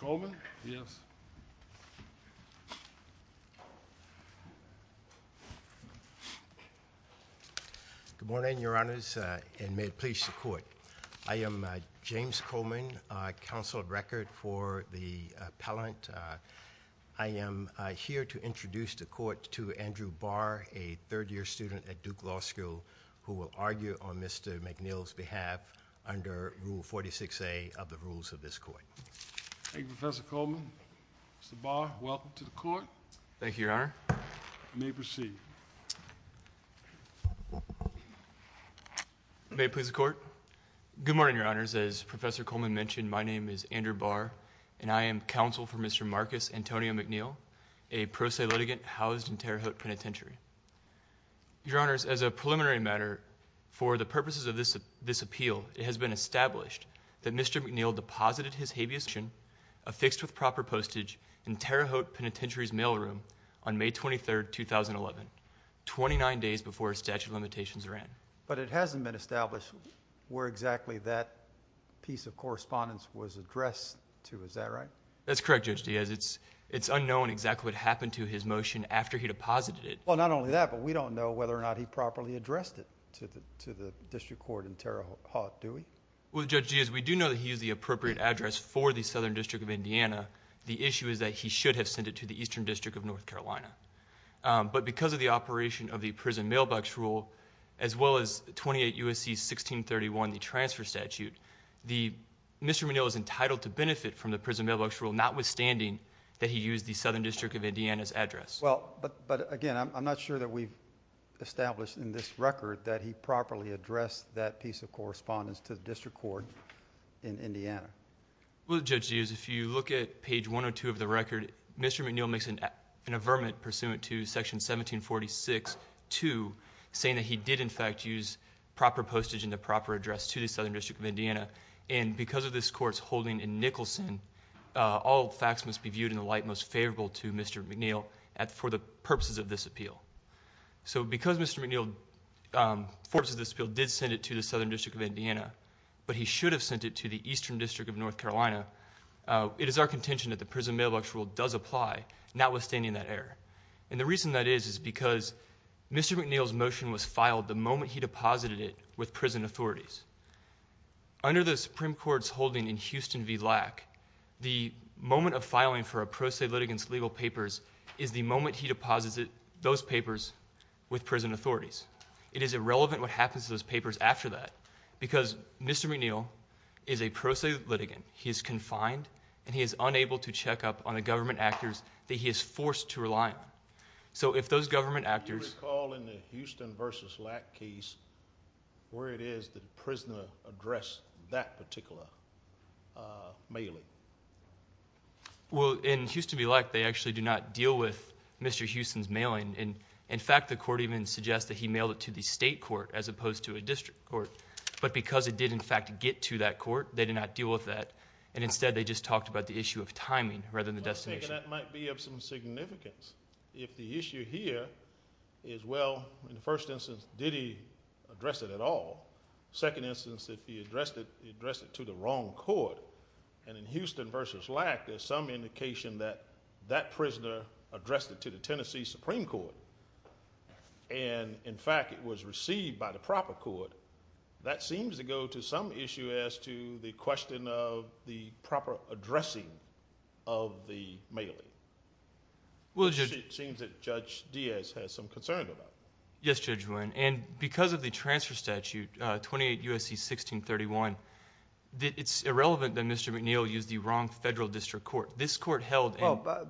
Good morning, Your Honors, and may it please the Court. I am James Coleman, Counsel of Record for the Appellant. I am here to introduce the Court to Andrew Barr, a third-year student at Duke Law School who will argue on Mr. McNeill's behalf under Rule 46A of the Rules of this Court. Andrew Barr Thank you, Professor Coleman. Mr. Barr, welcome to the Court. Andrew Barr Thank you, Your Honor. Andrew Barr You may proceed. Andrew Barr May it please the Court. Good morning, Your Honors. As Professor Coleman mentioned, my name is Andrew Barr and I am counsel for Mr. Marcus Antonio McNeill, a pro se litigant housed in Terre Haute Penitentiary. Andrew Barr Your Honors, as a preliminary matter for the purposes of this appeal, it has been established that Mr. McNeill deposited his habeas condition affixed with proper postage in Terre Haute Penitentiary's mailroom on May 23, 2011, twenty-nine days before his statute of limitations ran. Judge Coleman But it hasn't been established where exactly that piece of correspondence was addressed to, is that right? Andrew Barr That's correct, Judge, it's unknown exactly what happened to his motion after he deposited it. Judge Coleman Well, not only that, but we don't know whether or not he properly addressed it to the district court in Terre Haute, do we? Andrew Barr Well, Judge Giaz, we do know that he used the appropriate address for the Southern District of Indiana. The issue is that he should have sent it to the Eastern District of North Carolina, but because of the operation of the prison mailbox rule, as well as 28 U.S.C. 1631, the transfer statute, Mr. McNeill is entitled to benefit from the prison mailbox rule, notwithstanding that he used the Southern District of Indiana's address. Judge Coleman Well, but again, I'm not sure that we've established in this record that he properly addressed that piece of correspondence to the district court in Indiana. Andrew Barr Well, Judge Giaz, if you look at page 102 of the record, Mr. McNeill makes an affirmation pursuant to section 1746.2, saying that he did in fact use proper postage and the proper address to the Southern District of Indiana, and because of this court's holding in Nicholson, all facts must be viewed in the light most for the purposes of this appeal. So because Mr. McNeill, for this appeal, did send it to the Southern District of Indiana, but he should have sent it to the Eastern District of North Carolina, it is our contention that the prison mailbox rule does apply, notwithstanding that error, and the reason that is is because Mr. McNeill's motion was filed the moment he deposited it with prison authorities. Under the Supreme Court's holding in Houston v. Lack, the moment of filing for a pro se litigant's legal papers is the moment he deposits those papers with prison authorities. It is irrelevant what happens to those papers after that, because Mr. McNeill is a pro se litigant. He is confined, and he is unable to check up on the government actors that he is forced to rely on. So if those government actors... Judge Giaz Do you recall in the Houston v. Lack case where it is that a prisoner addressed that particular mailing? Well, in Houston v. Lack, they actually do not deal with Mr. Houston's mailing. In fact, the court even suggests that he mailed it to the state court as opposed to a district court. But because it did in fact get to that court, they did not deal with that, and instead they just talked about the issue of timing rather than the destination. Well, I'm thinking that might be of some significance. If the issue here is, well, in the first instance, did he address it at all? Second instance, if he addressed it, he addressed it to the wrong court. And in Houston v. Lack, there is some indication that that prisoner addressed it to the Tennessee Supreme Court. And in fact, it was received by the proper court. That seems to go to some issue as to the question of the proper addressing of the mailing. It seems that Judge Giaz has some concern about that. Yes, Judge Wynn. And because of the transfer statute, 28 U.S.C. 1631, it's irrelevant that Mr. McNeil used the wrong federal district court. This court held... Well,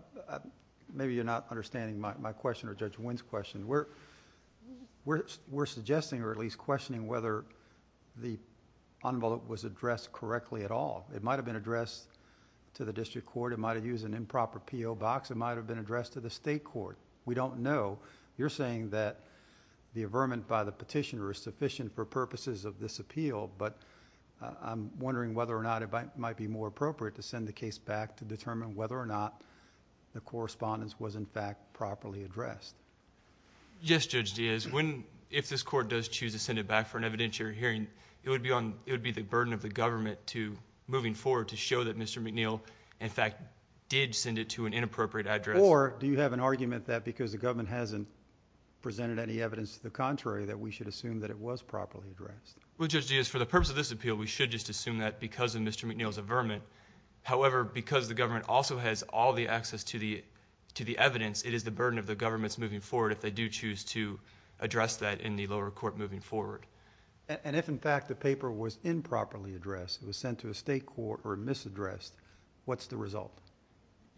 maybe you're not understanding my question or Judge Wynn's question. We're suggesting or at least questioning whether the envelope was addressed correctly at all. It might have been addressed to the district court. It might have used an improper P.O. box. It might have been addressed to the state court. We don't know. You're saying that the averment by the petitioner is sufficient for purposes of this appeal. But I'm wondering whether or not it might be more appropriate to send the case back to determine whether or not the correspondence was, in fact, properly addressed. Yes, Judge Giaz. If this court does choose to send it back for an evidentiary hearing, it would be the burden of the government moving forward to show that Mr. McNeil, in fact, did send it to an inappropriate address. Or do you have an argument that because the government hasn't presented any evidence to the contrary that we should assume that it was properly addressed? Well, Judge Giaz, for the purpose of this appeal, we should just assume that because of Mr. McNeil's averment. However, because the government also has all the access to the evidence, it is the burden of the governments moving forward if they do choose to address that in the lower court moving forward. And if, in fact, the paper was improperly addressed, it was sent to a state court or misaddressed, what's the result?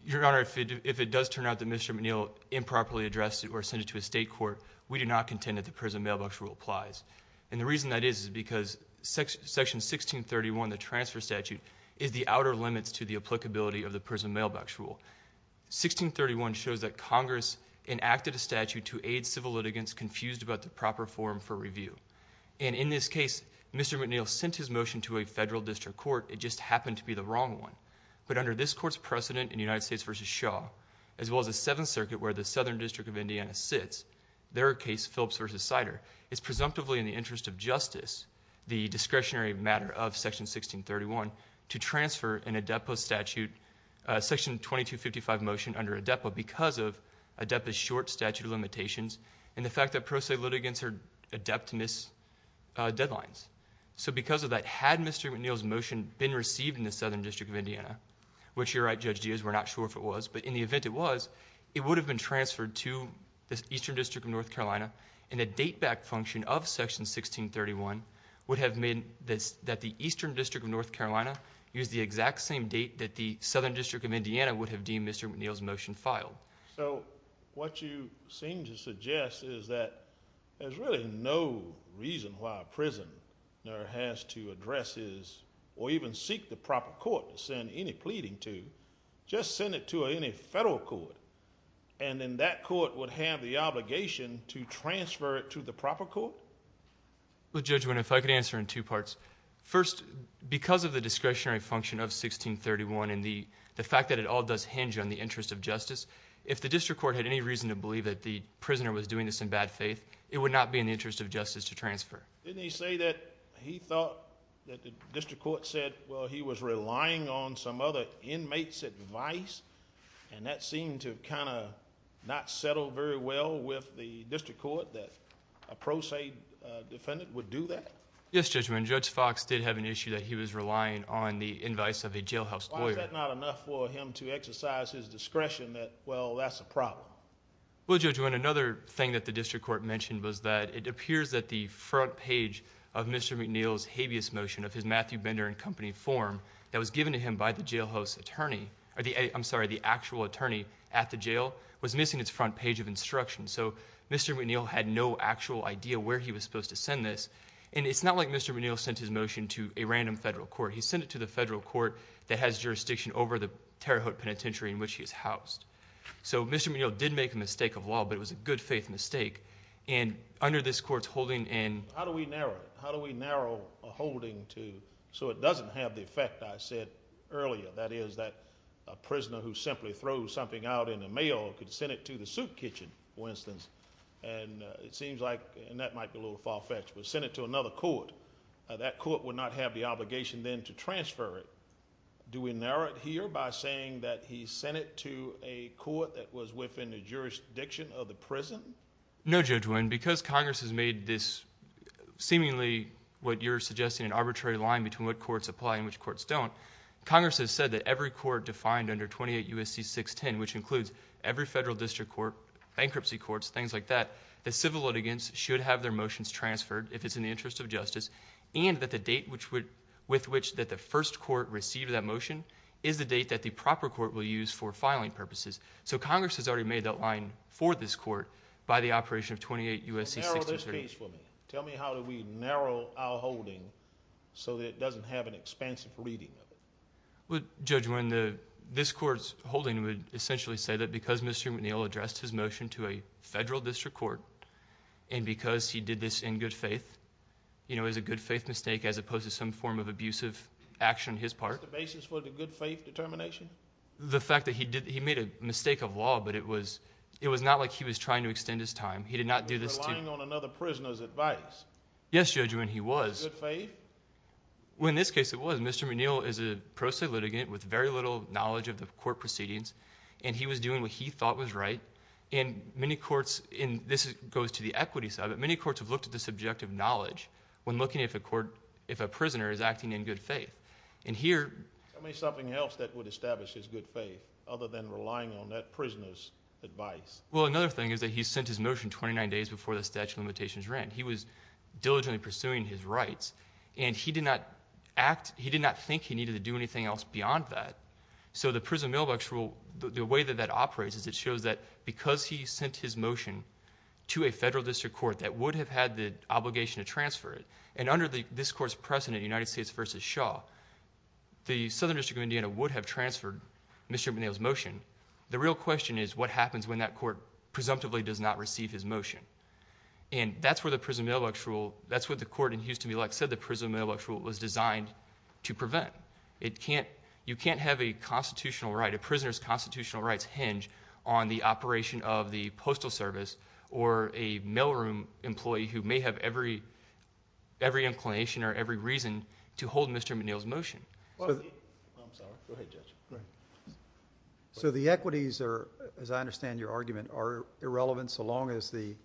Your Honor, if it does turn out that Mr. McNeil improperly addressed it or sent it to a state court, we do not contend that the Prison Mailbox Rule applies. And the reason that is is because Section 1631, the transfer statute, is the outer limits to the applicability of the Prison Mailbox Rule. 1631 shows that Congress enacted a statute to aid civil litigants confused about the proper form for review. And in this case, Mr. McNeil sent his motion to a federal district court. It just happened to be the wrong one. But under this court's precedent in United States v. Shaw, as well as the Seventh Circuit where the Southern District of Indiana sits, their case, Phillips v. Sider, it's presumptively in the interest of justice, the discretionary matter of Section 1631, to transfer an ADEPA statute, Section 2255 motion under ADEPA because of ADEPA's short statute of limitations and the fact that pro se litigants are adept to miss deadlines. So because of that, had Mr. McNeil's motion been received in the Southern District of Indiana, which you're right, Judge Diaz, we're not sure if it was, but in the event it was, it would have been transferred to the Eastern District of North Carolina, and a date-back function of Section 1631 would have made that the Eastern District of North Carolina use the exact same date that the Southern District of Indiana would have deemed Mr. McNeil's motion filed. So what you seem to suggest is that there's really no reason why a prisoner has to address his or even seek the proper court to send any pleading to, just send it to any federal court, and then that court would have the obligation to transfer it to the proper court? Well, Judge, if I could answer in two parts. First, because of the discretionary function of 1631 and the fact that it all does hinge on the interest of justice, if the district court had any reason to believe that the prisoner was doing this in bad faith, it would not be in the interest of justice to transfer. Didn't he say that he thought that the district court said, well, he was relying on some other inmate's advice, and that seemed to have kind of not settled very well with the district court, that a pro se defendant would do that? Yes, Judge, when Judge Fox did have an issue that he was relying on the advice of a jailhouse lawyer. Was that not enough for him to exercise his discretion that, well, that's a problem? Well, Judge, another thing that the district court mentioned was that it appears that the front page of Mr. McNeil's habeas motion of his Matthew Bender and Company form that was given to him by the jailhouse attorney, I'm sorry, the actual attorney at the jail, was missing its front page of instruction. So Mr. McNeil had no actual idea where he was supposed to send this, and it's not like Mr. McNeil sent his motion to a random federal court. He sent it to the federal court that has jurisdiction over the Terre Haute penitentiary in which he is housed. So Mr. McNeil did make a mistake of law, but it was a good-faith mistake, and under this court's holding and... How do we narrow it? How do we narrow a holding so it doesn't have the effect I said earlier, that is, that a prisoner who simply throws something out in the mail could send it to the soup kitchen, for instance, and it seems like, and that might be a little far-fetched, but send it to another court. That court would not have the obligation then to transfer it. Do we narrow it here by saying that he sent it to a court that was within the jurisdiction of the prison? No, Judge Wynn, because Congress has made this seemingly what you're suggesting, an arbitrary line between what courts apply and which courts don't, Congress has said that every court defined under 28 U.S.C. 610, which includes every federal district court, bankruptcy courts, things like that, that civil litigants should have their motions transferred if it's in the interest of justice, and that the date with which the first court received that motion is the date that the proper court will use for filing purposes. So Congress has already made that line for this court by the operation of 28 U.S.C. 610. Narrow this case for me. Tell me how do we narrow our holding so that it doesn't have an expansive reading of it. Judge Wynn, this court's holding would essentially say that because Mr. McNeil addressed his motion to a federal district court and because he did this in good faith, you know, it was a good faith mistake as opposed to some form of abusive action on his part. Is that the basis for the good faith determination? The fact that he made a mistake of law, but it was not like he was trying to extend his time. He did not do this to... He was relying on another prisoner's advice. Yes, Judge Wynn, he was. Good faith? Well, in this case it was. Mr. McNeil is a pro se litigant with very little knowledge of the court proceedings, and he was doing what he thought was right. And many courts, and this goes to the equity side, but many courts have looked at the subjective knowledge when looking at if a prisoner is acting in good faith. And here... Tell me something else that would establish his good faith other than relying on that prisoner's advice. Well, another thing is that he sent his motion 29 days before the statute of limitations ran. He was diligently pursuing his rights, and he did not act... He did not think he needed to do anything else beyond that. So the Prison Mailbox Rule, the way that that operates is it shows that because he sent his motion to a federal district court that would have had the obligation to transfer it, and under this court's precedent, United States v. Shaw, the Southern District of Indiana would have transferred Mr. McNeil's motion. The real question is what happens when that court presumptively does not receive his motion. And that's where the Prison Mailbox Rule... That's what the court in Houston v. Lex said the Prison Mailbox Rule was designed to prevent. You can't have a prisoner's constitutional rights hinge on the operation of the Postal Service or a mailroom employee who may have every inclination or every reason to hold Mr. McNeil's motion. I'm sorry. Go ahead, Judge. So the equities are, as I understand your argument, are irrelevant so long as the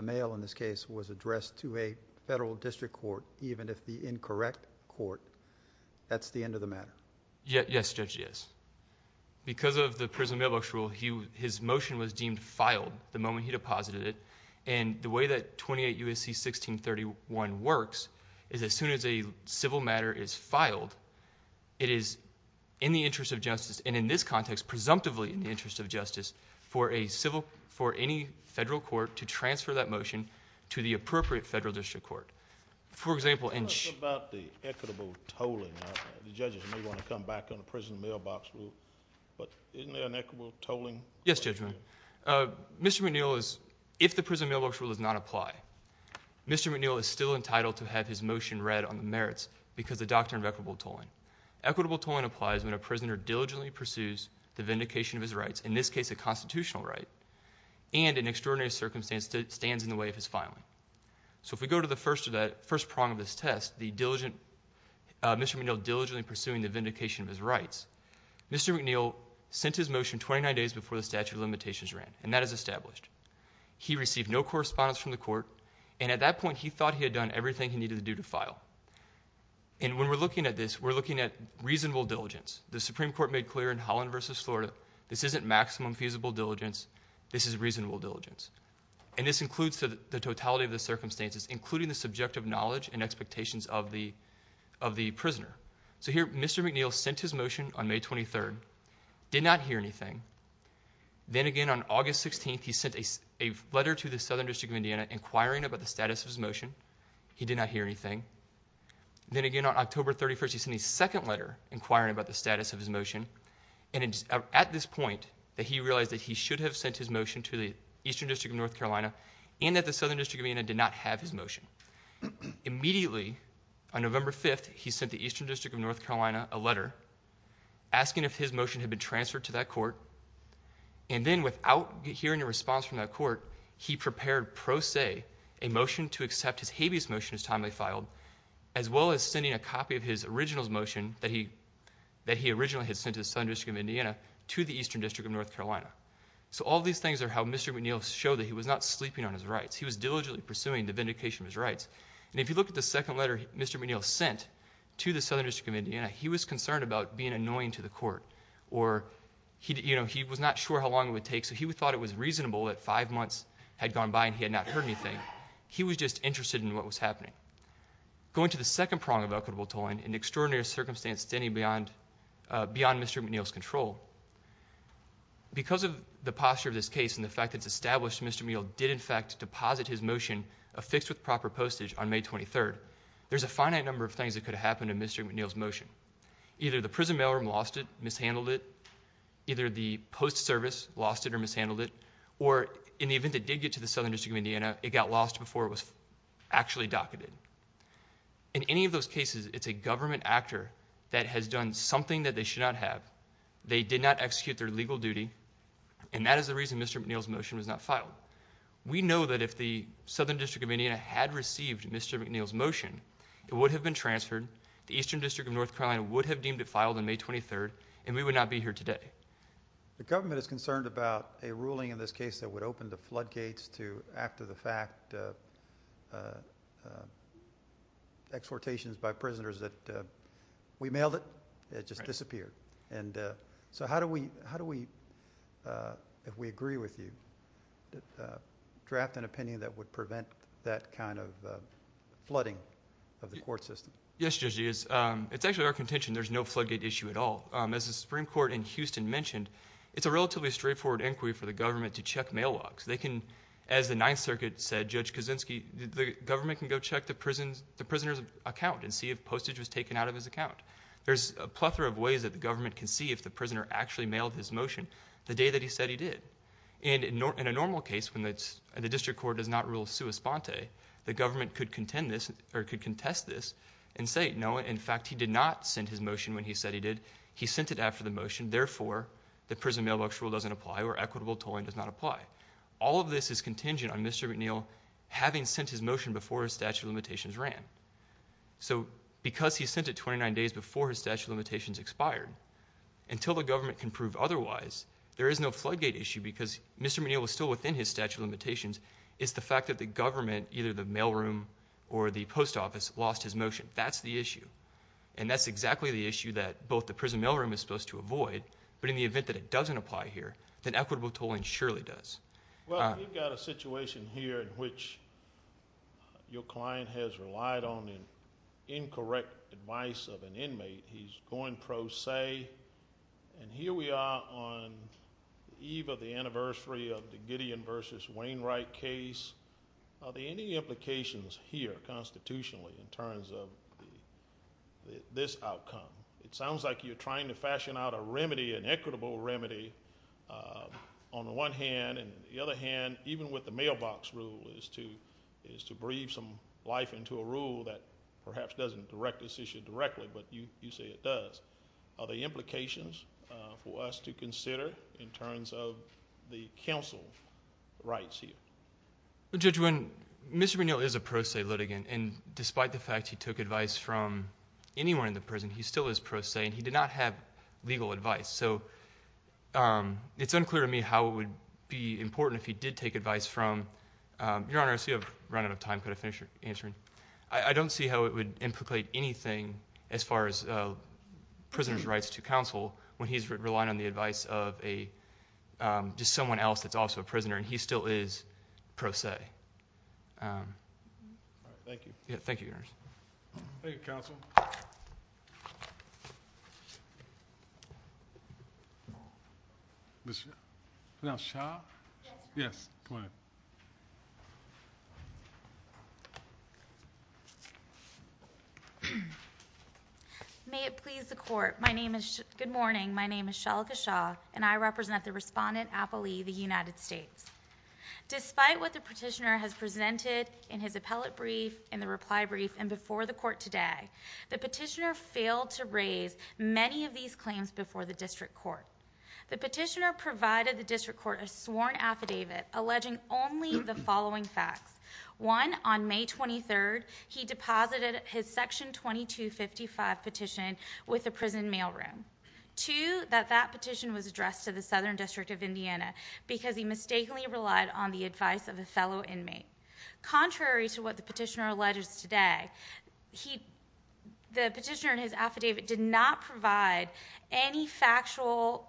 mail, in this case, was addressed to a federal district court even if the incorrect court. That's the end of the matter. Yes, Judge, it is. Because of the Prison Mailbox Rule, his motion was deemed filed the moment he deposited it, and the way that 28 U.S.C. 1631 works is as soon as a civil matter is filed, it is in the interest of justice, and in this context, presumptively in the interest of justice, for any federal court to transfer that motion to the appropriate federal district court. Tell us about the equitable tolling. The judges may want to come back on the Prison Mailbox Rule, but isn't there an equitable tolling? Yes, Judge. Mr. McNeil, if the Prison Mailbox Rule does not apply, Mr. McNeil is still entitled to have his motion read on the merits because of the doctrine of equitable tolling. Equitable tolling applies when a prisoner diligently pursues the vindication of his rights, in this case, a constitutional right, and in extraordinary circumstances, stands in the way of his filing. So if we go to the first prong of this test, Mr. McNeil diligently pursuing the vindication of his rights, Mr. McNeil sent his motion 29 days before the statute of limitations ran, and that is established. He received no correspondence from the court, and at that point, he thought he had done everything he needed to do to file. And when we're looking at this, we're looking at reasonable diligence. The Supreme Court made clear in Holland v. Florida, this isn't maximum feasible diligence, this is reasonable diligence. And this includes the totality of the circumstances, including the subjective knowledge and expectations of the prisoner. So here, Mr. McNeil sent his motion on May 23rd, did not hear anything. Then again, on August 16th, he sent a letter to the Southern District of Indiana inquiring about the status of his motion. He did not hear anything. Then again, on October 31st, he sent a second letter inquiring about the status of his motion. And it's at this point that he realized that he should have sent his motion to the Eastern District of North Carolina, and that the Southern District of Indiana did not have his motion. Immediately, on November 5th, he sent the Eastern District of North Carolina a letter asking if his motion had been transferred to that court. And then without hearing a response from that court, he prepared pro se a motion to accept his habeas motion as timely filed, as well as sending a copy of his original motion that he originally had sent to the Southern District of Indiana, to the Eastern District of North Carolina. So all these things are how Mr. McNeil showed that he was not sleeping on his rights. He was diligently pursuing the vindication of his rights. And if you look at the second letter Mr. McNeil sent to the Southern District of Indiana, he was concerned about being annoying to the court, or he was not sure how long it would take, so he thought it was reasonable that five months had gone by and he had not heard anything. He was just interested in what was happening. Going to the second prong of equitable tolling, an extraordinary circumstance standing beyond Mr. McNeil's control, because of the posture of this case and the fact that it's established Mr. McNeil did, in fact, deposit his motion affixed with proper postage on May 23rd, there's a finite number of things that could have happened to Mr. McNeil's motion. Either the prison mailroom lost it, mishandled it, either the post service lost it or mishandled it, or in the event it did get to the Southern District of Indiana, it got lost before it was actually docketed. In any of those cases, it's a government actor that has done something that they should not have. They did not execute their legal duty, and that is the reason Mr. McNeil's motion was not filed. We know that if the Southern District of Indiana had received Mr. McNeil's motion, it would have been transferred, the Eastern District of North Carolina would have deemed it filed on May 23rd, and we would not be here today. The government is concerned about a ruling in this case that would open the floodgates to, after the fact, exportations by prisoners that we mailed it, it just disappeared. And so how do we, if we agree with you, draft an opinion that would prevent that kind of flooding of the court system? Yes, Judge, it is. It's actually our contention there's no floodgate issue at all. As the Supreme Court in Houston mentioned, it's a relatively straightforward inquiry for the government to check mail logs. They can, as the Ninth Circuit said, Judge Kuczynski, the government can go check the prisoner's account and see if postage was taken out of his account. There's a plethora of ways that the government can see if the prisoner actually mailed his motion the day that he said he did. And in a normal case, when the district court does not rule sua sponte, the government could contend this, or could contest this and say, no, in fact, he did not send his motion when he said he did. He sent it after the motion. Therefore, the prison mailbox rule doesn't apply or equitable tolling does not apply. All of this is contingent on Mr. McNeil having sent his motion before his statute of limitations ran. So because he sent it 29 days before his statute of limitations expired, until the government can prove otherwise, there is no floodgate issue because Mr. McNeil was still within his statute of limitations. It's the fact that the government, either the mailroom or the post office, lost his motion. That's the issue. And that's exactly the issue that both the prison mailroom is supposed to avoid, but in the event that it doesn't apply here, then equitable tolling surely does. Well, you've got a situation here in which your client has relied on incorrect advice of an inmate. He's going pro se. And here we are on the eve of the anniversary of the Gideon v. Wainwright case. Are there any implications here constitutionally in terms of this outcome? It sounds like you're trying to fashion out a remedy, an equitable remedy, on the one hand. And on the other hand, even with the mailbox rule, is to breathe some life into a rule that perhaps doesn't direct this issue directly. But you say it does. Are there implications for us to consider in terms of the counsel rights here? Well, Judge Winn, Mr. McNeil is a pro se litigant. And despite the fact he took advice from anyone in the prison, he still is pro se, and he did not have legal advice. So it's unclear to me how it would be important if he did take advice from. Your Honor, I see I've run out of time. Could I finish answering? I don't see how it would implicate anything as far as prisoners' rights to counsel when he's relying on the advice of just someone else that's also a prisoner, and he still is pro se. Thank you. Thank you, Your Honor. Thank you, counsel. Ms. Shah? Yes, Your Honor. Yes, go ahead. May it please the court. Good morning. My name is Shalika Shah, and I represent the Respondent, Apple Lee, of the United States. Despite what the petitioner has presented in his appellate brief, in the reply brief, and before the court today, the petitioner failed to raise many of these claims before the district court. The petitioner provided the district court a sworn affidavit alleging only the following facts. One, on May 23rd, he deposited his section 2255 petition with the prison mailroom. Two, that that petition was addressed to the Southern District of Indiana because he mistakenly relied on the advice of a fellow inmate. Contrary to what the petitioner alleges today, the petitioner in his affidavit did not provide any factual,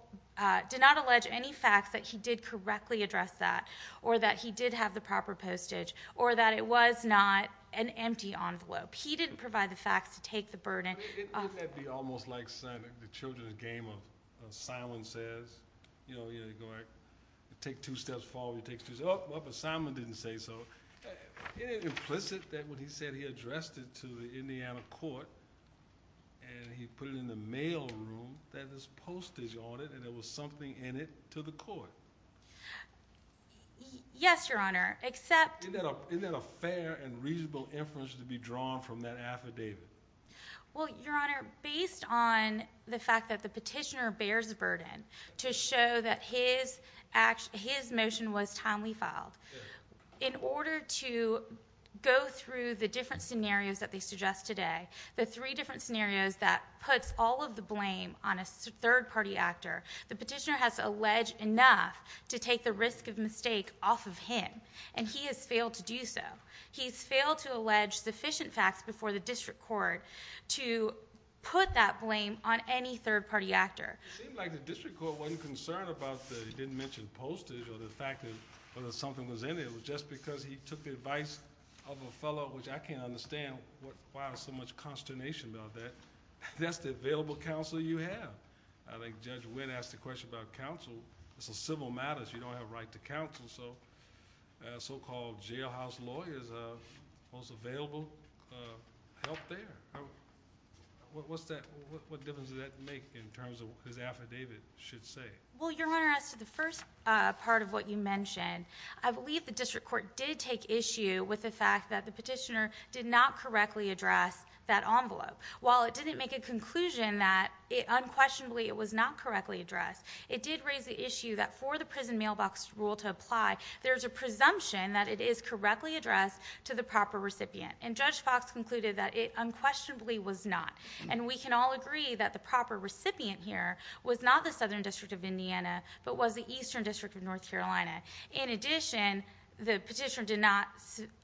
did not allege any facts that he did correctly address that, or that he did have the proper postage, or that it was not an empty envelope. He didn't provide the facts to take the burden. Wouldn't that be almost like the children's game of Simon Says? You know, you take two steps forward, you take two steps up, but Simon didn't say so. Isn't it implicit that when he said he addressed it to the Indiana court, and he put it in the mailroom, that there's postage on it, and there was something in it to the court? Yes, Your Honor, except... Isn't that a fair and reasonable inference to be drawn from that affidavit? Well, Your Honor, based on the fact that the petitioner bears the burden to show that his motion was timely filed, in order to go through the different scenarios that they suggest today, the three different scenarios that puts all of the blame on a third-party actor, the petitioner has alleged enough to take the risk of mistake off of him, and he has failed to do so. He's failed to allege sufficient facts before the district court to put that blame on any third-party actor. It seemed like the district court wasn't concerned about that he didn't mention postage or the fact that something was in there. It was just because he took the advice of a fellow, which I can't understand why there's so much consternation about that. That's the available counsel you have. I think Judge Wynn asked the question about counsel. This is civil matters. You don't have a right to counsel, so so-called jailhouse lawyers are most available help there. What difference does that make in terms of what his affidavit should say? Well, Your Honor, as to the first part of what you mentioned, I believe the district court did take issue with the fact that the petitioner did not correctly address that envelope. While it didn't make a conclusion that unquestionably it was not correctly addressed, it did raise the issue that for the prison mailbox rule to apply, there's a presumption that it is correctly addressed to the proper recipient. And Judge Fox concluded that it unquestionably was not. And we can all agree that the proper recipient here was not the Southern District of Indiana, but was the Eastern District of North Carolina. In addition, the petitioner did not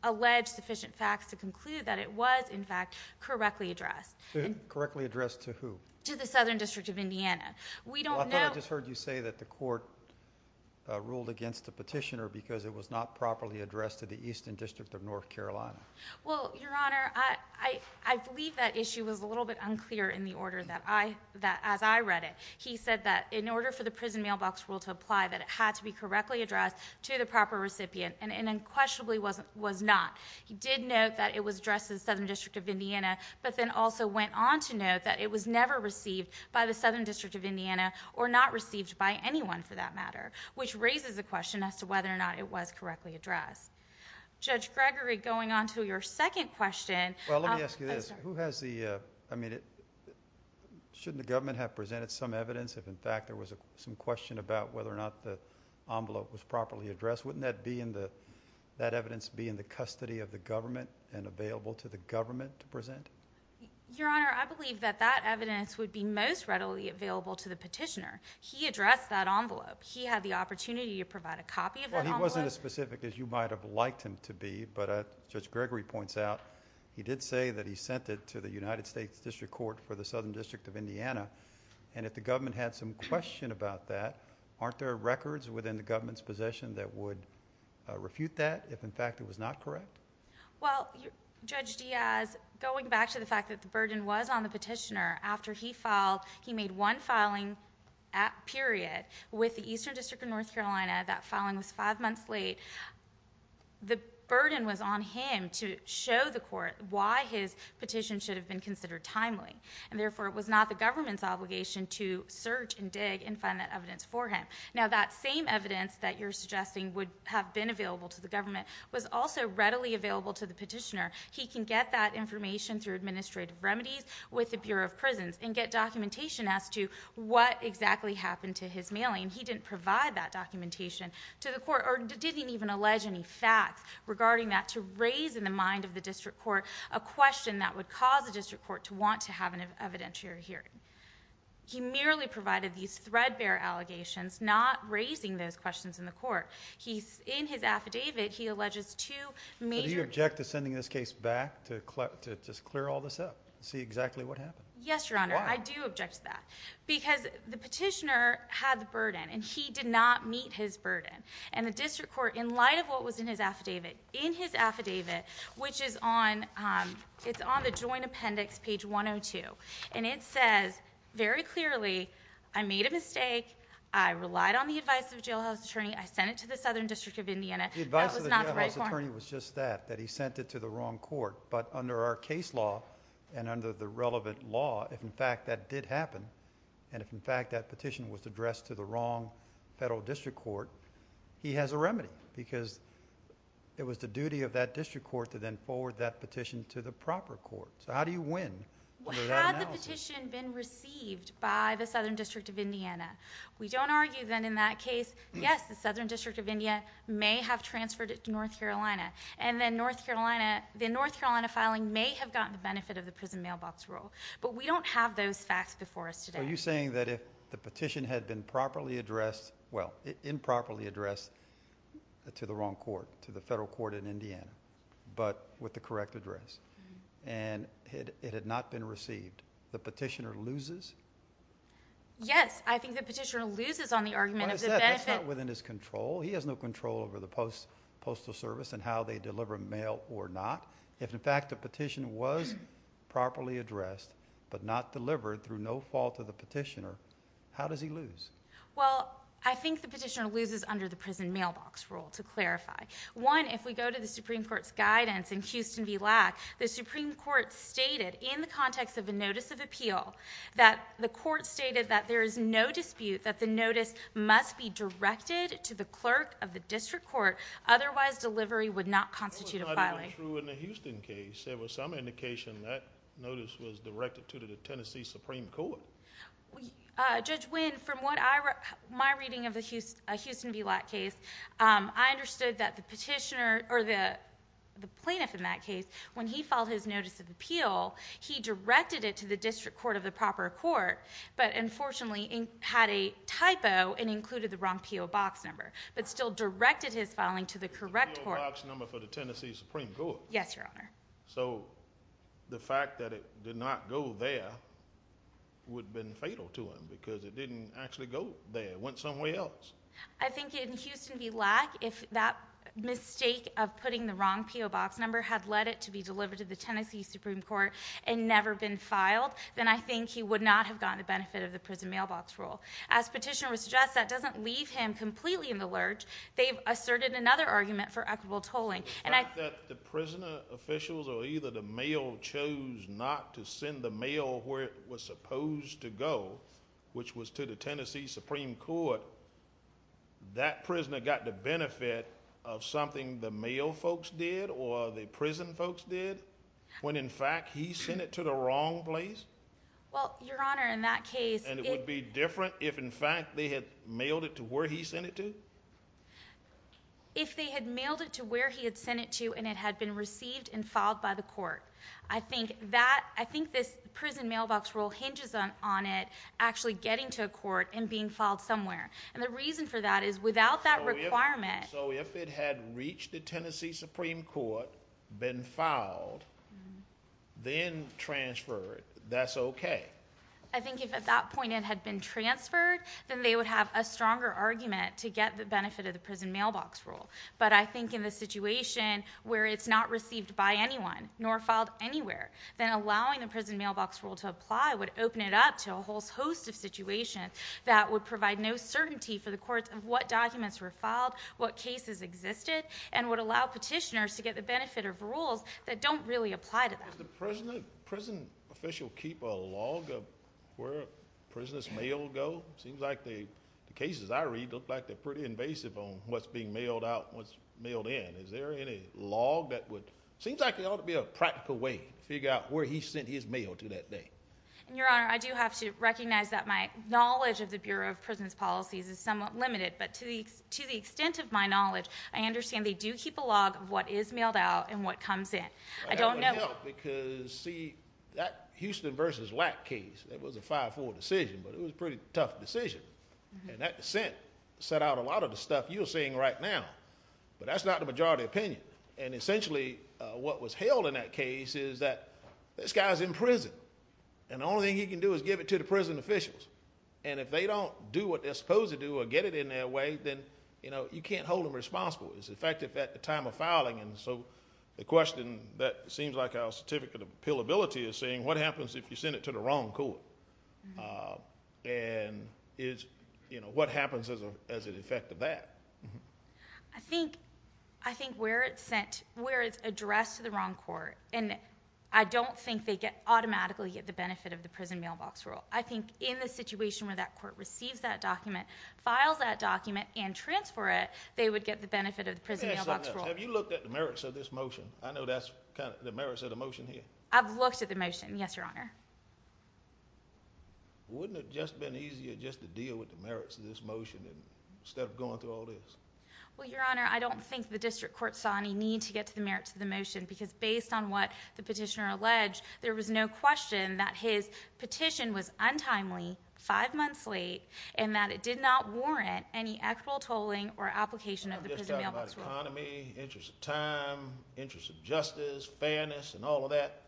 allege sufficient facts to conclude that it was, in fact, correctly addressed. Correctly addressed to who? To the Southern District of Indiana. I thought I just heard you say that the court ruled against the petitioner because it was not properly addressed to the Eastern District of North Carolina. Well, Your Honor, I believe that issue was a little bit unclear in the order that I read it. He said that in order for the prison mailbox rule to apply, that it had to be correctly addressed to the proper recipient, and unquestionably was not. He did note that it was addressed to the Southern District of Indiana, but then also went on to note that it was never received by the Southern District of Indiana or not received by anyone for that matter, which raises the question as to whether or not it was correctly addressed. Judge Gregory, going on to your second question. Well, let me ask you this. Shouldn't the government have presented some evidence if, in fact, there was some question about whether or not the envelope was properly addressed? Wouldn't that evidence be in the custody of the government and available to the government to present? Your Honor, I believe that that evidence would be most readily available to the petitioner. He addressed that envelope. He had the opportunity to provide a copy of that envelope. Well, he wasn't as specific as you might have liked him to be, but Judge Gregory points out he did say that he sent it to the United States District Court for the Southern District of Indiana, and if the government had some question about that, aren't there records within the government's possession that would refute that if, in fact, it was not correct? Well, Judge Diaz, going back to the fact that the burden was on the petitioner after he filed, he made one filing period with the Eastern District of North Carolina. That filing was five months late. The burden was on him to show the court why his petition should have been considered timely, and therefore it was not the government's obligation to search and dig and find that evidence for him. Now, that same evidence that you're suggesting would have been available to the government was also readily available to the petitioner. He can get that information through administrative remedies with the Bureau of Prisons and get documentation as to what exactly happened to his mailing. He didn't provide that documentation to the court or didn't even allege any facts regarding that to raise in the mind of the district court a question that would cause the district court to want to have an evidentiary hearing. He merely provided these threadbare allegations, not raising those questions in the court. In his affidavit, he alleges two major... Do you object to sending this case back to just clear all this up and see exactly what happened? Yes, Your Honor. Why? I do object to that because the petitioner had the burden, and he did not meet his burden, and the district court, in light of what was in his affidavit, in his affidavit, which is on the Joint Appendix, page 102, and it says very clearly, I made a mistake. I relied on the advice of a jailhouse attorney. I sent it to the Southern District of Indiana. That was not the right point. The advice of the jailhouse attorney was just that, that he sent it to the wrong court, but under our case law and under the relevant law, if in fact that did happen and if in fact that petition was addressed to the wrong federal district court, he has a remedy because it was the duty of that district court to then forward that petition to the proper court. So how do you win under that analysis? Had the petition been received by the Southern District of Indiana, we don't argue then in that case, yes, the Southern District of India may have transferred it to North Carolina, and then the North Carolina filing may have gotten the benefit of the prison mailbox rule, but we don't have those facts before us today. Are you saying that if the petition had been properly addressed, well, improperly addressed to the wrong court, to the federal court in Indiana, but with the correct address, and it had not been received, the petitioner loses? Yes, I think the petitioner loses on the argument of the benefit. That's not within his control. He has no control over the Postal Service and how they deliver mail or not. If, in fact, the petition was properly addressed but not delivered through no fault of the petitioner, how does he lose? Well, I think the petitioner loses under the prison mailbox rule, to clarify. One, if we go to the Supreme Court's guidance in Houston v. Lack, the Supreme Court stated in the context of a notice of appeal that the court stated that there is no dispute that the notice must be directed to the clerk of the district court, otherwise delivery would not constitute a filing. That's not true in the Houston case. There was some indication that notice was directed to the Tennessee Supreme Court. Judge Winn, from my reading of the Houston v. Lack case, I understood that the petitioner, or the plaintiff in that case, when he filed his notice of appeal, he directed it to the district court of the proper court, but unfortunately had a typo and included the wrong P.O. box number, but still directed his filing to the correct court. The P.O. box number for the Tennessee Supreme Court? Yes, Your Honor. So the fact that it did not go there would have been fatal to him because it didn't actually go there. It went somewhere else. I think in Houston v. Lack, if that mistake of putting the wrong P.O. box number had led it to be delivered to the Tennessee Supreme Court and never been filed, then I think he would not have gotten the benefit of the prison mailbox rule. As petitioner would suggest, that doesn't leave him completely in the lurch. They've asserted another argument for equitable tolling. The fact that the prisoner officials, or either the mail, chose not to send the mail where it was supposed to go, which was to the Tennessee Supreme Court, that prisoner got the benefit of something the mail folks did or the prison folks did, when in fact he sent it to the wrong place? Well, Your Honor, in that case... And it would be different if in fact they had mailed it to where he sent it to? If they had mailed it to where he had sent it to and it had been received and filed by the court. I think this prison mailbox rule hinges on it actually getting to a court and being filed somewhere. And the reason for that is without that requirement... So if it had reached the Tennessee Supreme Court, been filed, then transferred, that's okay? I think if at that point it had been transferred, then they would have a stronger argument to get the benefit of the prison mailbox rule. But I think in the situation where it's not received by anyone nor filed anywhere, then allowing the prison mailbox rule to apply would open it up to a whole host of situations that would provide no certainty for the courts of what documents were filed, what cases existed, and would allow petitioners to get the benefit of rules that don't really apply to them. Does the prison official keep a log of where prisoners' mail go? It seems like the cases I read look like they're pretty invasive on what's being mailed out and what's being mailed in. Is there any log that would... It seems like there ought to be a practical way to figure out where he sent his mail to that day. Your Honor, I do have to recognize that my knowledge of the Bureau of Prison Policies is somewhat limited, but to the extent of my knowledge, I understand they do keep a log of what is mailed out and what comes in. I don't know... That would help because, see, that Houston v. Wack case, that was a 5-4 decision, but it was a pretty tough decision. And that dissent set out a lot of the stuff you're seeing right now, but that's not the majority opinion. And essentially what was held in that case is that this guy's in prison, and the only thing he can do is give it to the prison officials. And if they don't do what they're supposed to do or get it in their way, then you can't hold them responsible. It's effective at the time of filing. And so the question that seems like our certificate of appealability is saying, what happens if you send it to the wrong court? And what happens as an effect of that? I think where it's addressed to the wrong court, and I don't think they automatically get the benefit of the prison mailbox rule. I think in the situation where that court receives that document, files that document, and transfers it, they would get the benefit of the prison mailbox rule. Have you looked at the merits of this motion? I know that's kind of the merits of the motion here. I've looked at the motion, yes, Your Honor. Wouldn't it have just been easier just to deal with the merits of this motion instead of going through all this? Well, Your Honor, I don't think the district court saw any need to get to the merits of the motion because based on what the petitioner alleged, there was no question that his petition was untimely, five months late, and that it did not warrant any actual tolling or application of the prison mailbox rule. I'm not just talking about economy, interest of time, interest of justice, fairness, and all of that.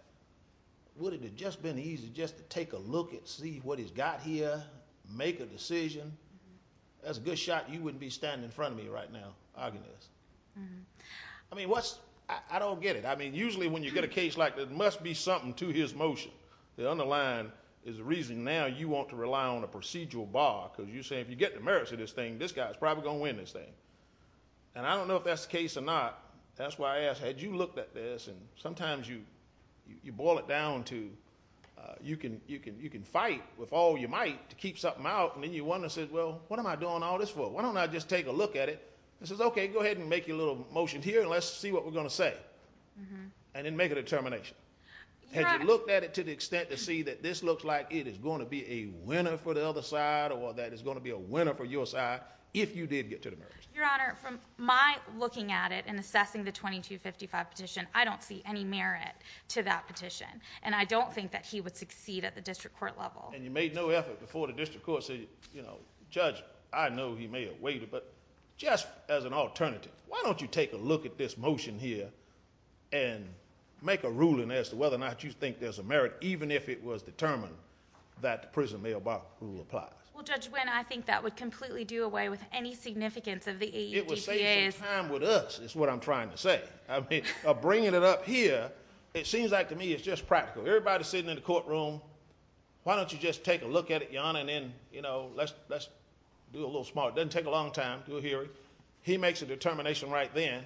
Wouldn't it have just been easier just to take a look and see what he's got here, make a decision? That's a good shot you wouldn't be standing in front of me right now arguing this. I mean, what's... I don't get it. I mean, usually when you get a case like this, there must be something to his motion. The underlying is the reason now you want to rely on a procedural bar because you're saying if you get the merits of this thing, this guy's probably going to win this thing. And I don't know if that's the case or not. That's why I asked, had you looked at this, and sometimes you boil it down to you can fight with all you might to keep something out, and then you wonder, well, what am I doing all this for? Why don't I just take a look at it? He says, okay, go ahead and make your little motion here, and let's see what we're going to say. And then make a determination. Had you looked at it to the extent to see that this looks like it is going to be a winner for the other side or that it's going to be a winner for your side if you did get to the merits? Your Honor, from my looking at it and assessing the 2255 petition, I don't see any merit to that petition. And I don't think that he would succeed at the district court level. And you made no effort before the district court to say, you know, Judge, I know he may have waited, but just as an alternative, why don't you take a look at this motion here and make a ruling as to whether or not you think there's a merit, even if it was determined that the prison mail box rule applies? Well, Judge Wynn, I think that would completely do away with any significance of the AEDPA. It would save some time with us is what I'm trying to say. I mean, bringing it up here, it seems like to me it's just practical. Everybody's sitting in the courtroom. Why don't you just take a look at it, Your Honor, and then, you know, let's do a little smarter. It doesn't take a long time to hear it. He makes a determination right then.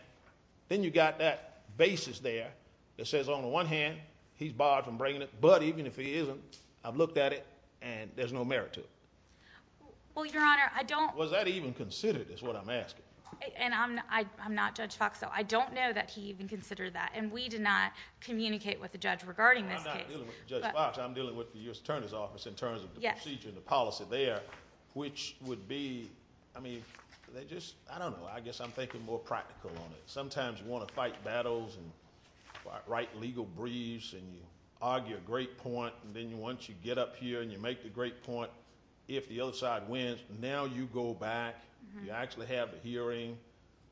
Then you've got that basis there that says on the one hand he's barred from bringing it, but even if he isn't, I've looked at it, and there's no merit to it. Well, Your Honor, I don't... Was that even considered is what I'm asking? And I'm not Judge Fox, so I don't know that he even considered that, and we did not communicate with the judge regarding this case. I'm not dealing with Judge Fox. I'm dealing with the U.S. Attorney's Office in terms of the procedure and the policy there, which would be, I mean, they just, I don't know. I guess I'm thinking more practical on it. Sometimes you want to fight battles and write legal briefs and you argue a great point, and then once you get up here and you make the great point, if the other side wins, now you go back, you actually have a hearing,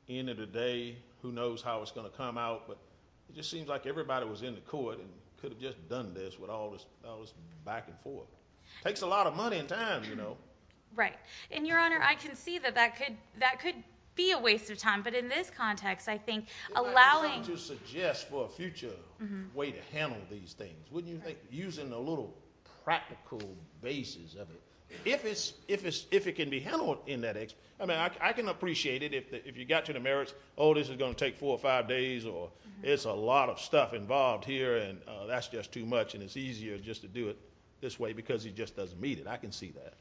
end of the day, who knows how it's going to come out, but it just seems like everybody was in the court and could have just done this with all this back and forth. It takes a lot of money and time, you know. Right, and Your Honor, I can see that that could be a waste of time, but in this context, I think allowing... It's time to suggest for a future way to handle these things, wouldn't you think, using a little practical basis of it. If it can be handled in that... I mean, I can appreciate it if you got to the merits, oh, this is going to take four or five days, or it's a lot of stuff involved here and that's just too much and it's easier just to do it this way because he just doesn't meet it. I can see that.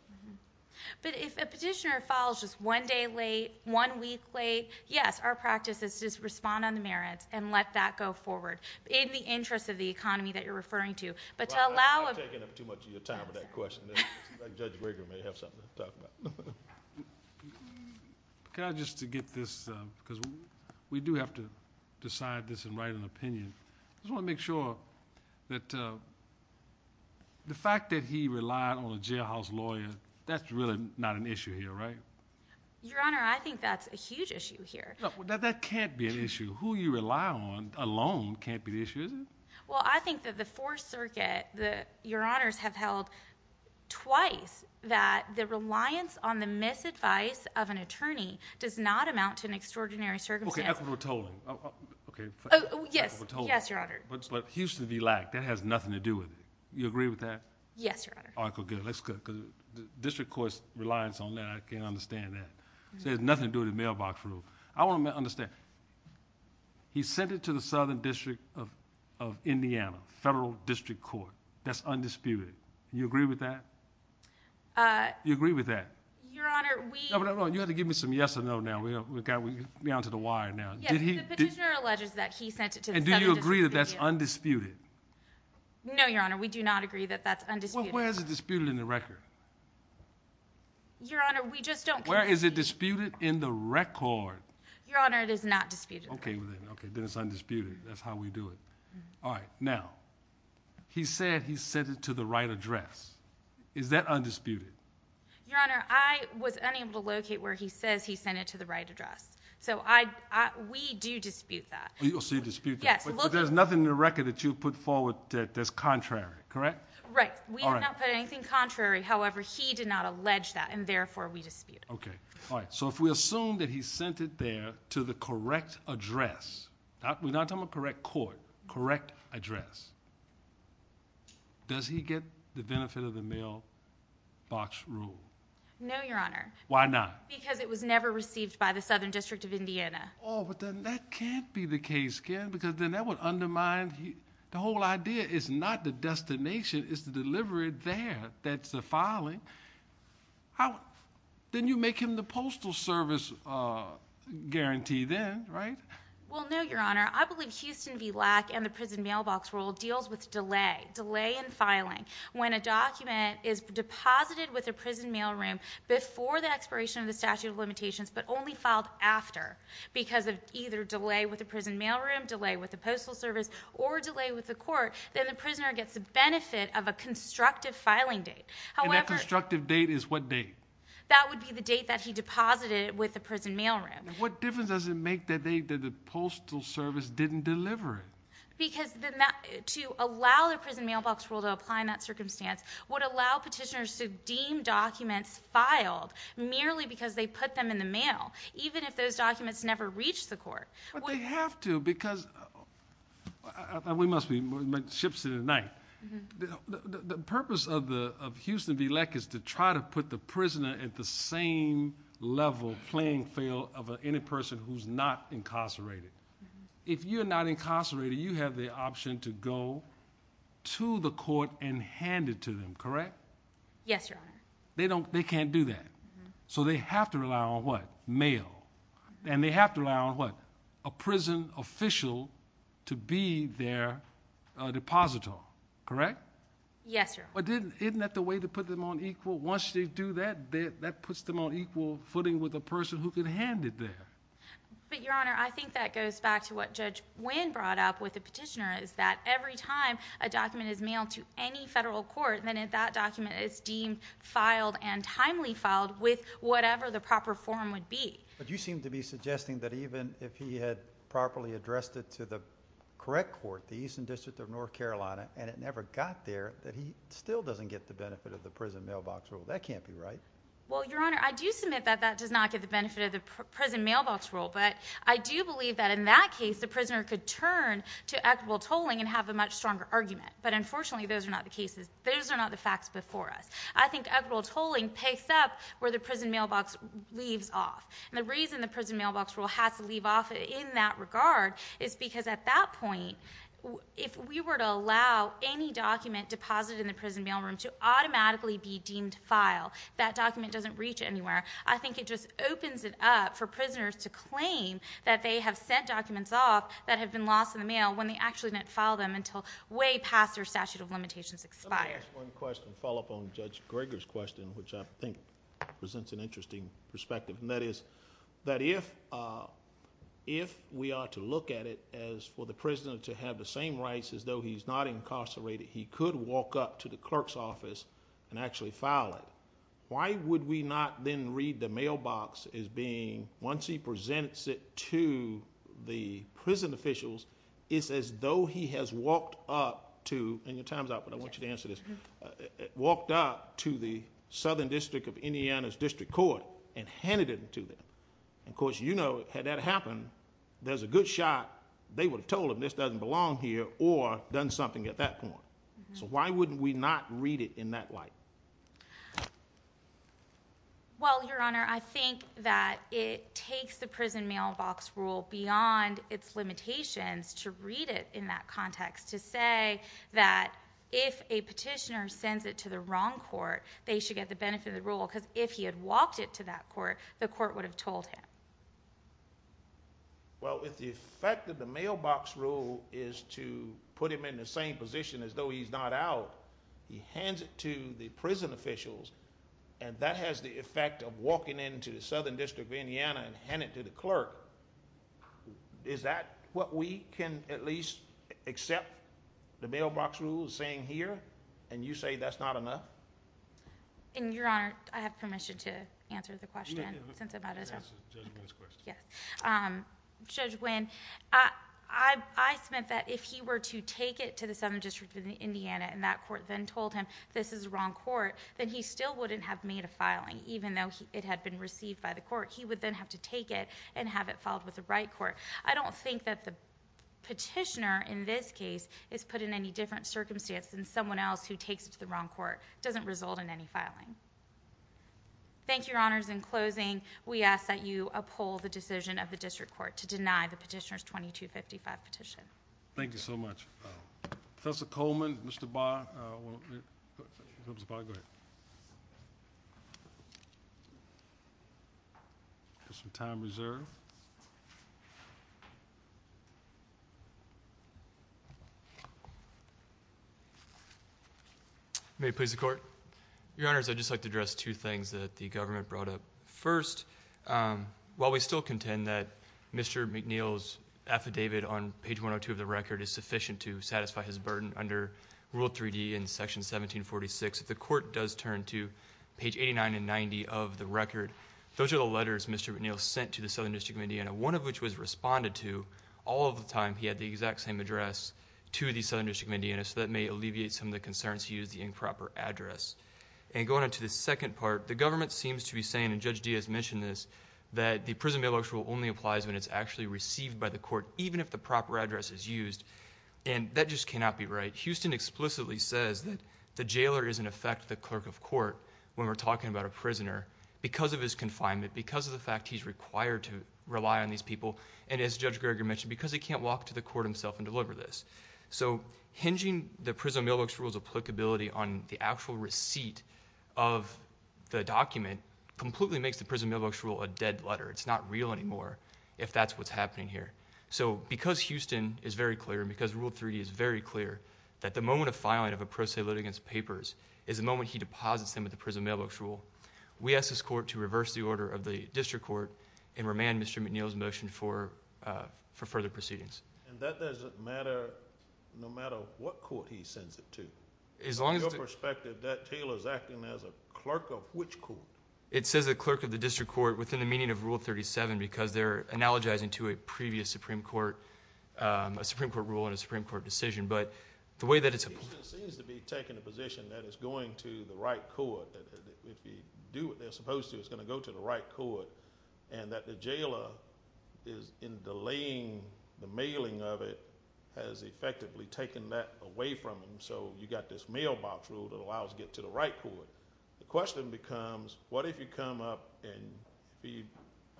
But if a petitioner files just one day late, one week late, yes, our practice is just respond on the merits and let that go forward. In the interest of the economy that you're referring to. But to allow... You're taking up too much of your time with that question. Judge Rager may have something to talk about. Just to get this, because we do have to decide this and write an opinion. I just want to make sure that the fact that he relied on a jailhouse lawyer, that's really not an issue here, right? Your Honor, I think that's a huge issue here. That can't be an issue. Who you rely on alone can't be the issue, is it? Well, I think that the Fourth Circuit, Your Honors, have held twice that the reliance on the misadvice of an attorney does not amount to an extraordinary circumstance. Okay, equitable tolling. Oh, yes. Yes, Your Honor. But Houston v. Lack, that has nothing to do with it. You agree with that? Yes, Your Honor. All right, good. That's good because the district court's reliance on that, I can understand that. It has nothing to do with the mailbox rule. I want to understand. He sent it to the Southern District of Indiana, Federal District Court. That's undisputed. You agree with that? You agree with that? Your Honor, we— No, but you have to give me some yes or no now. We're onto the wire now. Yes, the petitioner alleges that he sent it to the Southern District of Indiana. And do you agree that that's undisputed? No, Your Honor, we do not agree that that's undisputed. Well, where is it disputed in the record? Your Honor, we just don't— Where is it disputed in the record? Your Honor, it is not disputed. Okay. Then it's undisputed. That's how we do it. All right. Now, he said he sent it to the right address. Is that undisputed? Your Honor, I was unable to locate where he says he sent it to the right address. So we do dispute that. So you dispute that. Yes. But there's nothing in the record that you put forward that's contrary, correct? Right. We have not put anything contrary. However, he did not allege that, and therefore we dispute it. Okay. All right. So if we assume that he sent it there to the correct address, we're not talking about correct court, correct address, does he get the benefit of the mailbox rule? No, Your Honor. Why not? Because it was never received by the Southern District of Indiana. Oh, but then that can't be the case, can it? Because then that would undermine—the whole idea is not the destination, it's the delivery there that's the filing. Then you make him the postal service guarantee then, right? Well, no, Your Honor. I believe Houston v. Lack and the prison mailbox rule deals with delay, delay in filing. When a document is deposited with a prison mail room before the expiration of the statute of limitations, but only filed after because of either delay with the prison mail room, delay with the postal service, or delay with the court, then the prisoner gets the benefit of a constructive filing date. And that constructive date is what date? That would be the date that he deposited it with the prison mail room. What difference does it make that the postal service didn't deliver it? Because to allow the prison mailbox rule to apply in that circumstance would allow petitioners to deem documents filed merely because they put them in the mail, even if those documents never reached the court. But they have to because—we must be ships in the night. The purpose of Houston v. Lack is to try to put the prisoner at the same level playing field of any person who's not incarcerated. If you're not incarcerated, you have the option to go to the court and hand it to them, correct? Yes, Your Honor. They can't do that. So they have to rely on what? Mail. And they have to rely on what? A prison official to be their depositor, correct? Yes, Your Honor. But isn't that the way to put them on equal? Once they do that, that puts them on equal footing with a person who can hand it there. But, Your Honor, I think that goes back to what Judge Wynn brought up with the petitioner is that every time a document is mailed to any federal court, then that document is deemed filed and timely filed with whatever the proper form would be. But you seem to be suggesting that even if he had properly addressed it to the correct court, the Eastern District of North Carolina, and it never got there, that he still doesn't get the benefit of the prison mailbox rule. That can't be right. Well, Your Honor, I do submit that that does not get the benefit of the prison mailbox rule, but I do believe that in that case the prisoner could turn to equitable tolling and have a much stronger argument. But, unfortunately, those are not the cases. Those are not the facts before us. I think equitable tolling picks up where the prison mailbox leaves off. The reason the prison mailbox rule has to leave off in that regard is because at that point, if we were to allow any document deposited in the prison mail room to automatically be deemed filed, that document doesn't reach anywhere. I think it just opens it up for prisoners to claim that they have sent documents off that have been lost in the mail when they actually didn't file them until way past their statute of limitations expires. Let me ask one question to follow up on Judge Greger's question, which I think presents an interesting perspective, and that is that if we are to look at it as for the prisoner to have the same rights as though he's not incarcerated, he could walk up to the clerk's office and actually file it. Why would we not then read the mailbox as being, once he presents it to the prison officials, it's as though he has walked up to, and your time's up, but I want you to answer this, walked up to the Southern District of Indiana's district court and handed it to them. Of course, you know, had that happened, there's a good shot they would have told them this doesn't belong here or done something at that point. So why wouldn't we not read it in that light? Well, Your Honor, I think that it takes the prison mailbox rule beyond its limitations to read it in that context to say that if a petitioner sends it to the wrong court, they should get the benefit of the rule because if he had walked it to that court, the court would have told him. Well, if the effect of the mailbox rule is to put him in the same position as though he's not out, he hands it to the prison officials, and that has the effect of walking into the Southern District of Indiana and handing it to the clerk, is that what we can at least accept the mailbox rule saying here and you say that's not enough? And, Your Honor, I have permission to answer the question. You can answer Judge Wynn's question. Yes. Judge Wynn, I spent that if he were to take it to the Southern District of Indiana and that court then told him this is the wrong court, then he still wouldn't have made a filing even though it had been received by the court. He would then have to take it and have it filed with the right court. I don't think that the petitioner in this case is put in any different circumstance than someone else who takes it to the wrong court. It doesn't result in any filing. Thank you, Your Honors. In closing, we ask that you uphold the decision of the District Court to deny the petitioner's 2255 petition. Thank you so much. Professor Coleman, Mr. Barr. Mr. Barr, go ahead. There's some time reserved. May it please the Court? Your Honors, I'd just like to address two things that the government brought up. First, while we still contend that Mr. McNeil's affidavit on page 102 of the record is sufficient to satisfy his burden under Rule 3D in Section 1746, if the court does turn to page 89 and 90 of the record, those are the letters Mr. McNeil sent to the Southern District of Indiana, one of which was responded to all of the time. He had the exact same address to the Southern District of Indiana, so that may alleviate some of the concerns he used the improper address. Going on to the second part, the government seems to be saying, and Judge Diaz mentioned this, that the prison bailout rule only applies when it's actually received by the court, even if the proper address is used. That just cannot be right. Houston explicitly says that the jailer is in effect the clerk of court when we're talking about a prisoner because of his confinement, because of the fact he's required to rely on these people, and as Judge Greger mentioned, because he can't walk to the court himself and deliver this. Hinging the prison mailbox rule's applicability on the actual receipt of the document completely makes the prison mailbox rule a dead letter. It's not real anymore if that's what's happening here. So because Houston is very clear, because Rule 3 is very clear, that the moment of filing of a pro se litigant's papers is the moment he deposits them at the prison mailbox rule, we ask this court to reverse the order of the district court and remand Mr. McNeil's motion for further proceedings. And that doesn't matter no matter what court he sends it to? From your perspective, that jailer's acting as a clerk of which court? It says a clerk of the district court within the meaning of Rule 37 because they're analogizing to a previous Supreme Court, a Supreme Court rule and a Supreme Court decision. But the way that it's a... Houston seems to be taking a position that it's going to the right court, that if you do what they're supposed to, it's going to go to the right court, and that the jailer is, in delaying the mailing of it, has effectively taken that away from him. So you've got this mailbox rule that allows it to get to the right court. The question becomes, what if you come up and he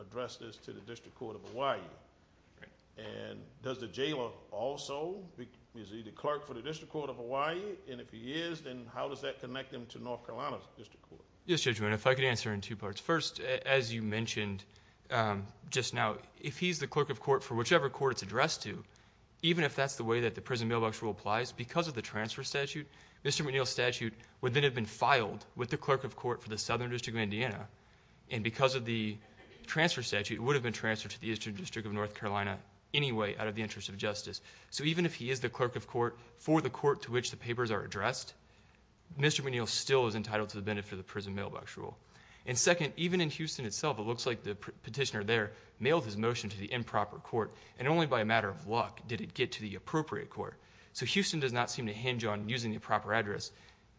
addressed this to the district court of Hawaii? And does the jailer also be the clerk for the district court of Hawaii? And if he is, then how does that connect him to North Carolina's district court? Yes, Judge Wynne, if I could answer in two parts. First, as you mentioned just now, if he's the clerk of court for whichever court it's addressed to, even if that's the way that the prison mailbox rule applies because of the transfer statute, and because of the transfer statute, it would have been transferred to the Eastern District of North Carolina anyway, out of the interest of justice. So even if he is the clerk of court for the court to which the papers are addressed, Mr. McNeil still is entitled to the benefit of the prison mailbox rule. And second, even in Houston itself, it looks like the petitioner there mailed his motion to the improper court, and only by a matter of luck did it get to the appropriate court. So Houston does not seem to hinge on using the proper address.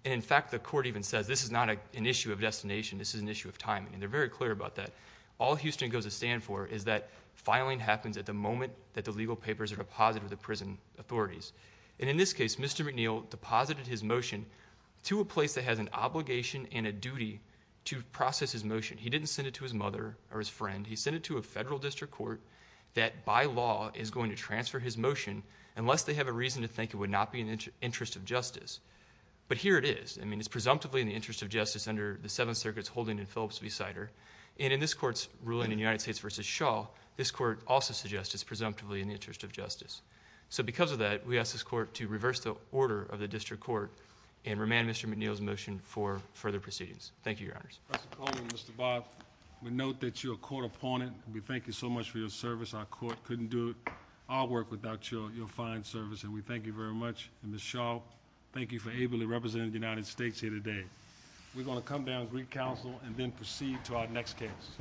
And in fact, the court even says this is not an issue of destination, this is an issue of timing, and they're very clear about that. All Houston goes to stand for is that filing happens at the moment that the legal papers are deposited with the prison authorities. And in this case, Mr. McNeil deposited his motion to a place that has an obligation and a duty to process his motion. He didn't send it to his mother or his friend. He sent it to a federal district court that by law is going to transfer his motion unless they have a reason to think it would not be in the interest of justice. But here it is. I mean, it's presumptively in the interest of justice under the Seventh Circuit's holding in Phillips v. Sider. And in this court's ruling in United States v. Shaw, this court also suggests it's presumptively in the interest of justice. So because of that, we ask this court to reverse the order of the district court and remand Mr. McNeil's motion for further proceedings. Thank you, Your Honors. Mr. Coleman, Mr. Bob, we note that you're a court opponent. We thank you so much for your service. Our court couldn't do our work without your fine service, and we thank you very much. And Ms. Shaw, thank you for ably representing the United States here today. We're going to come down and recounsel and then proceed to our next case.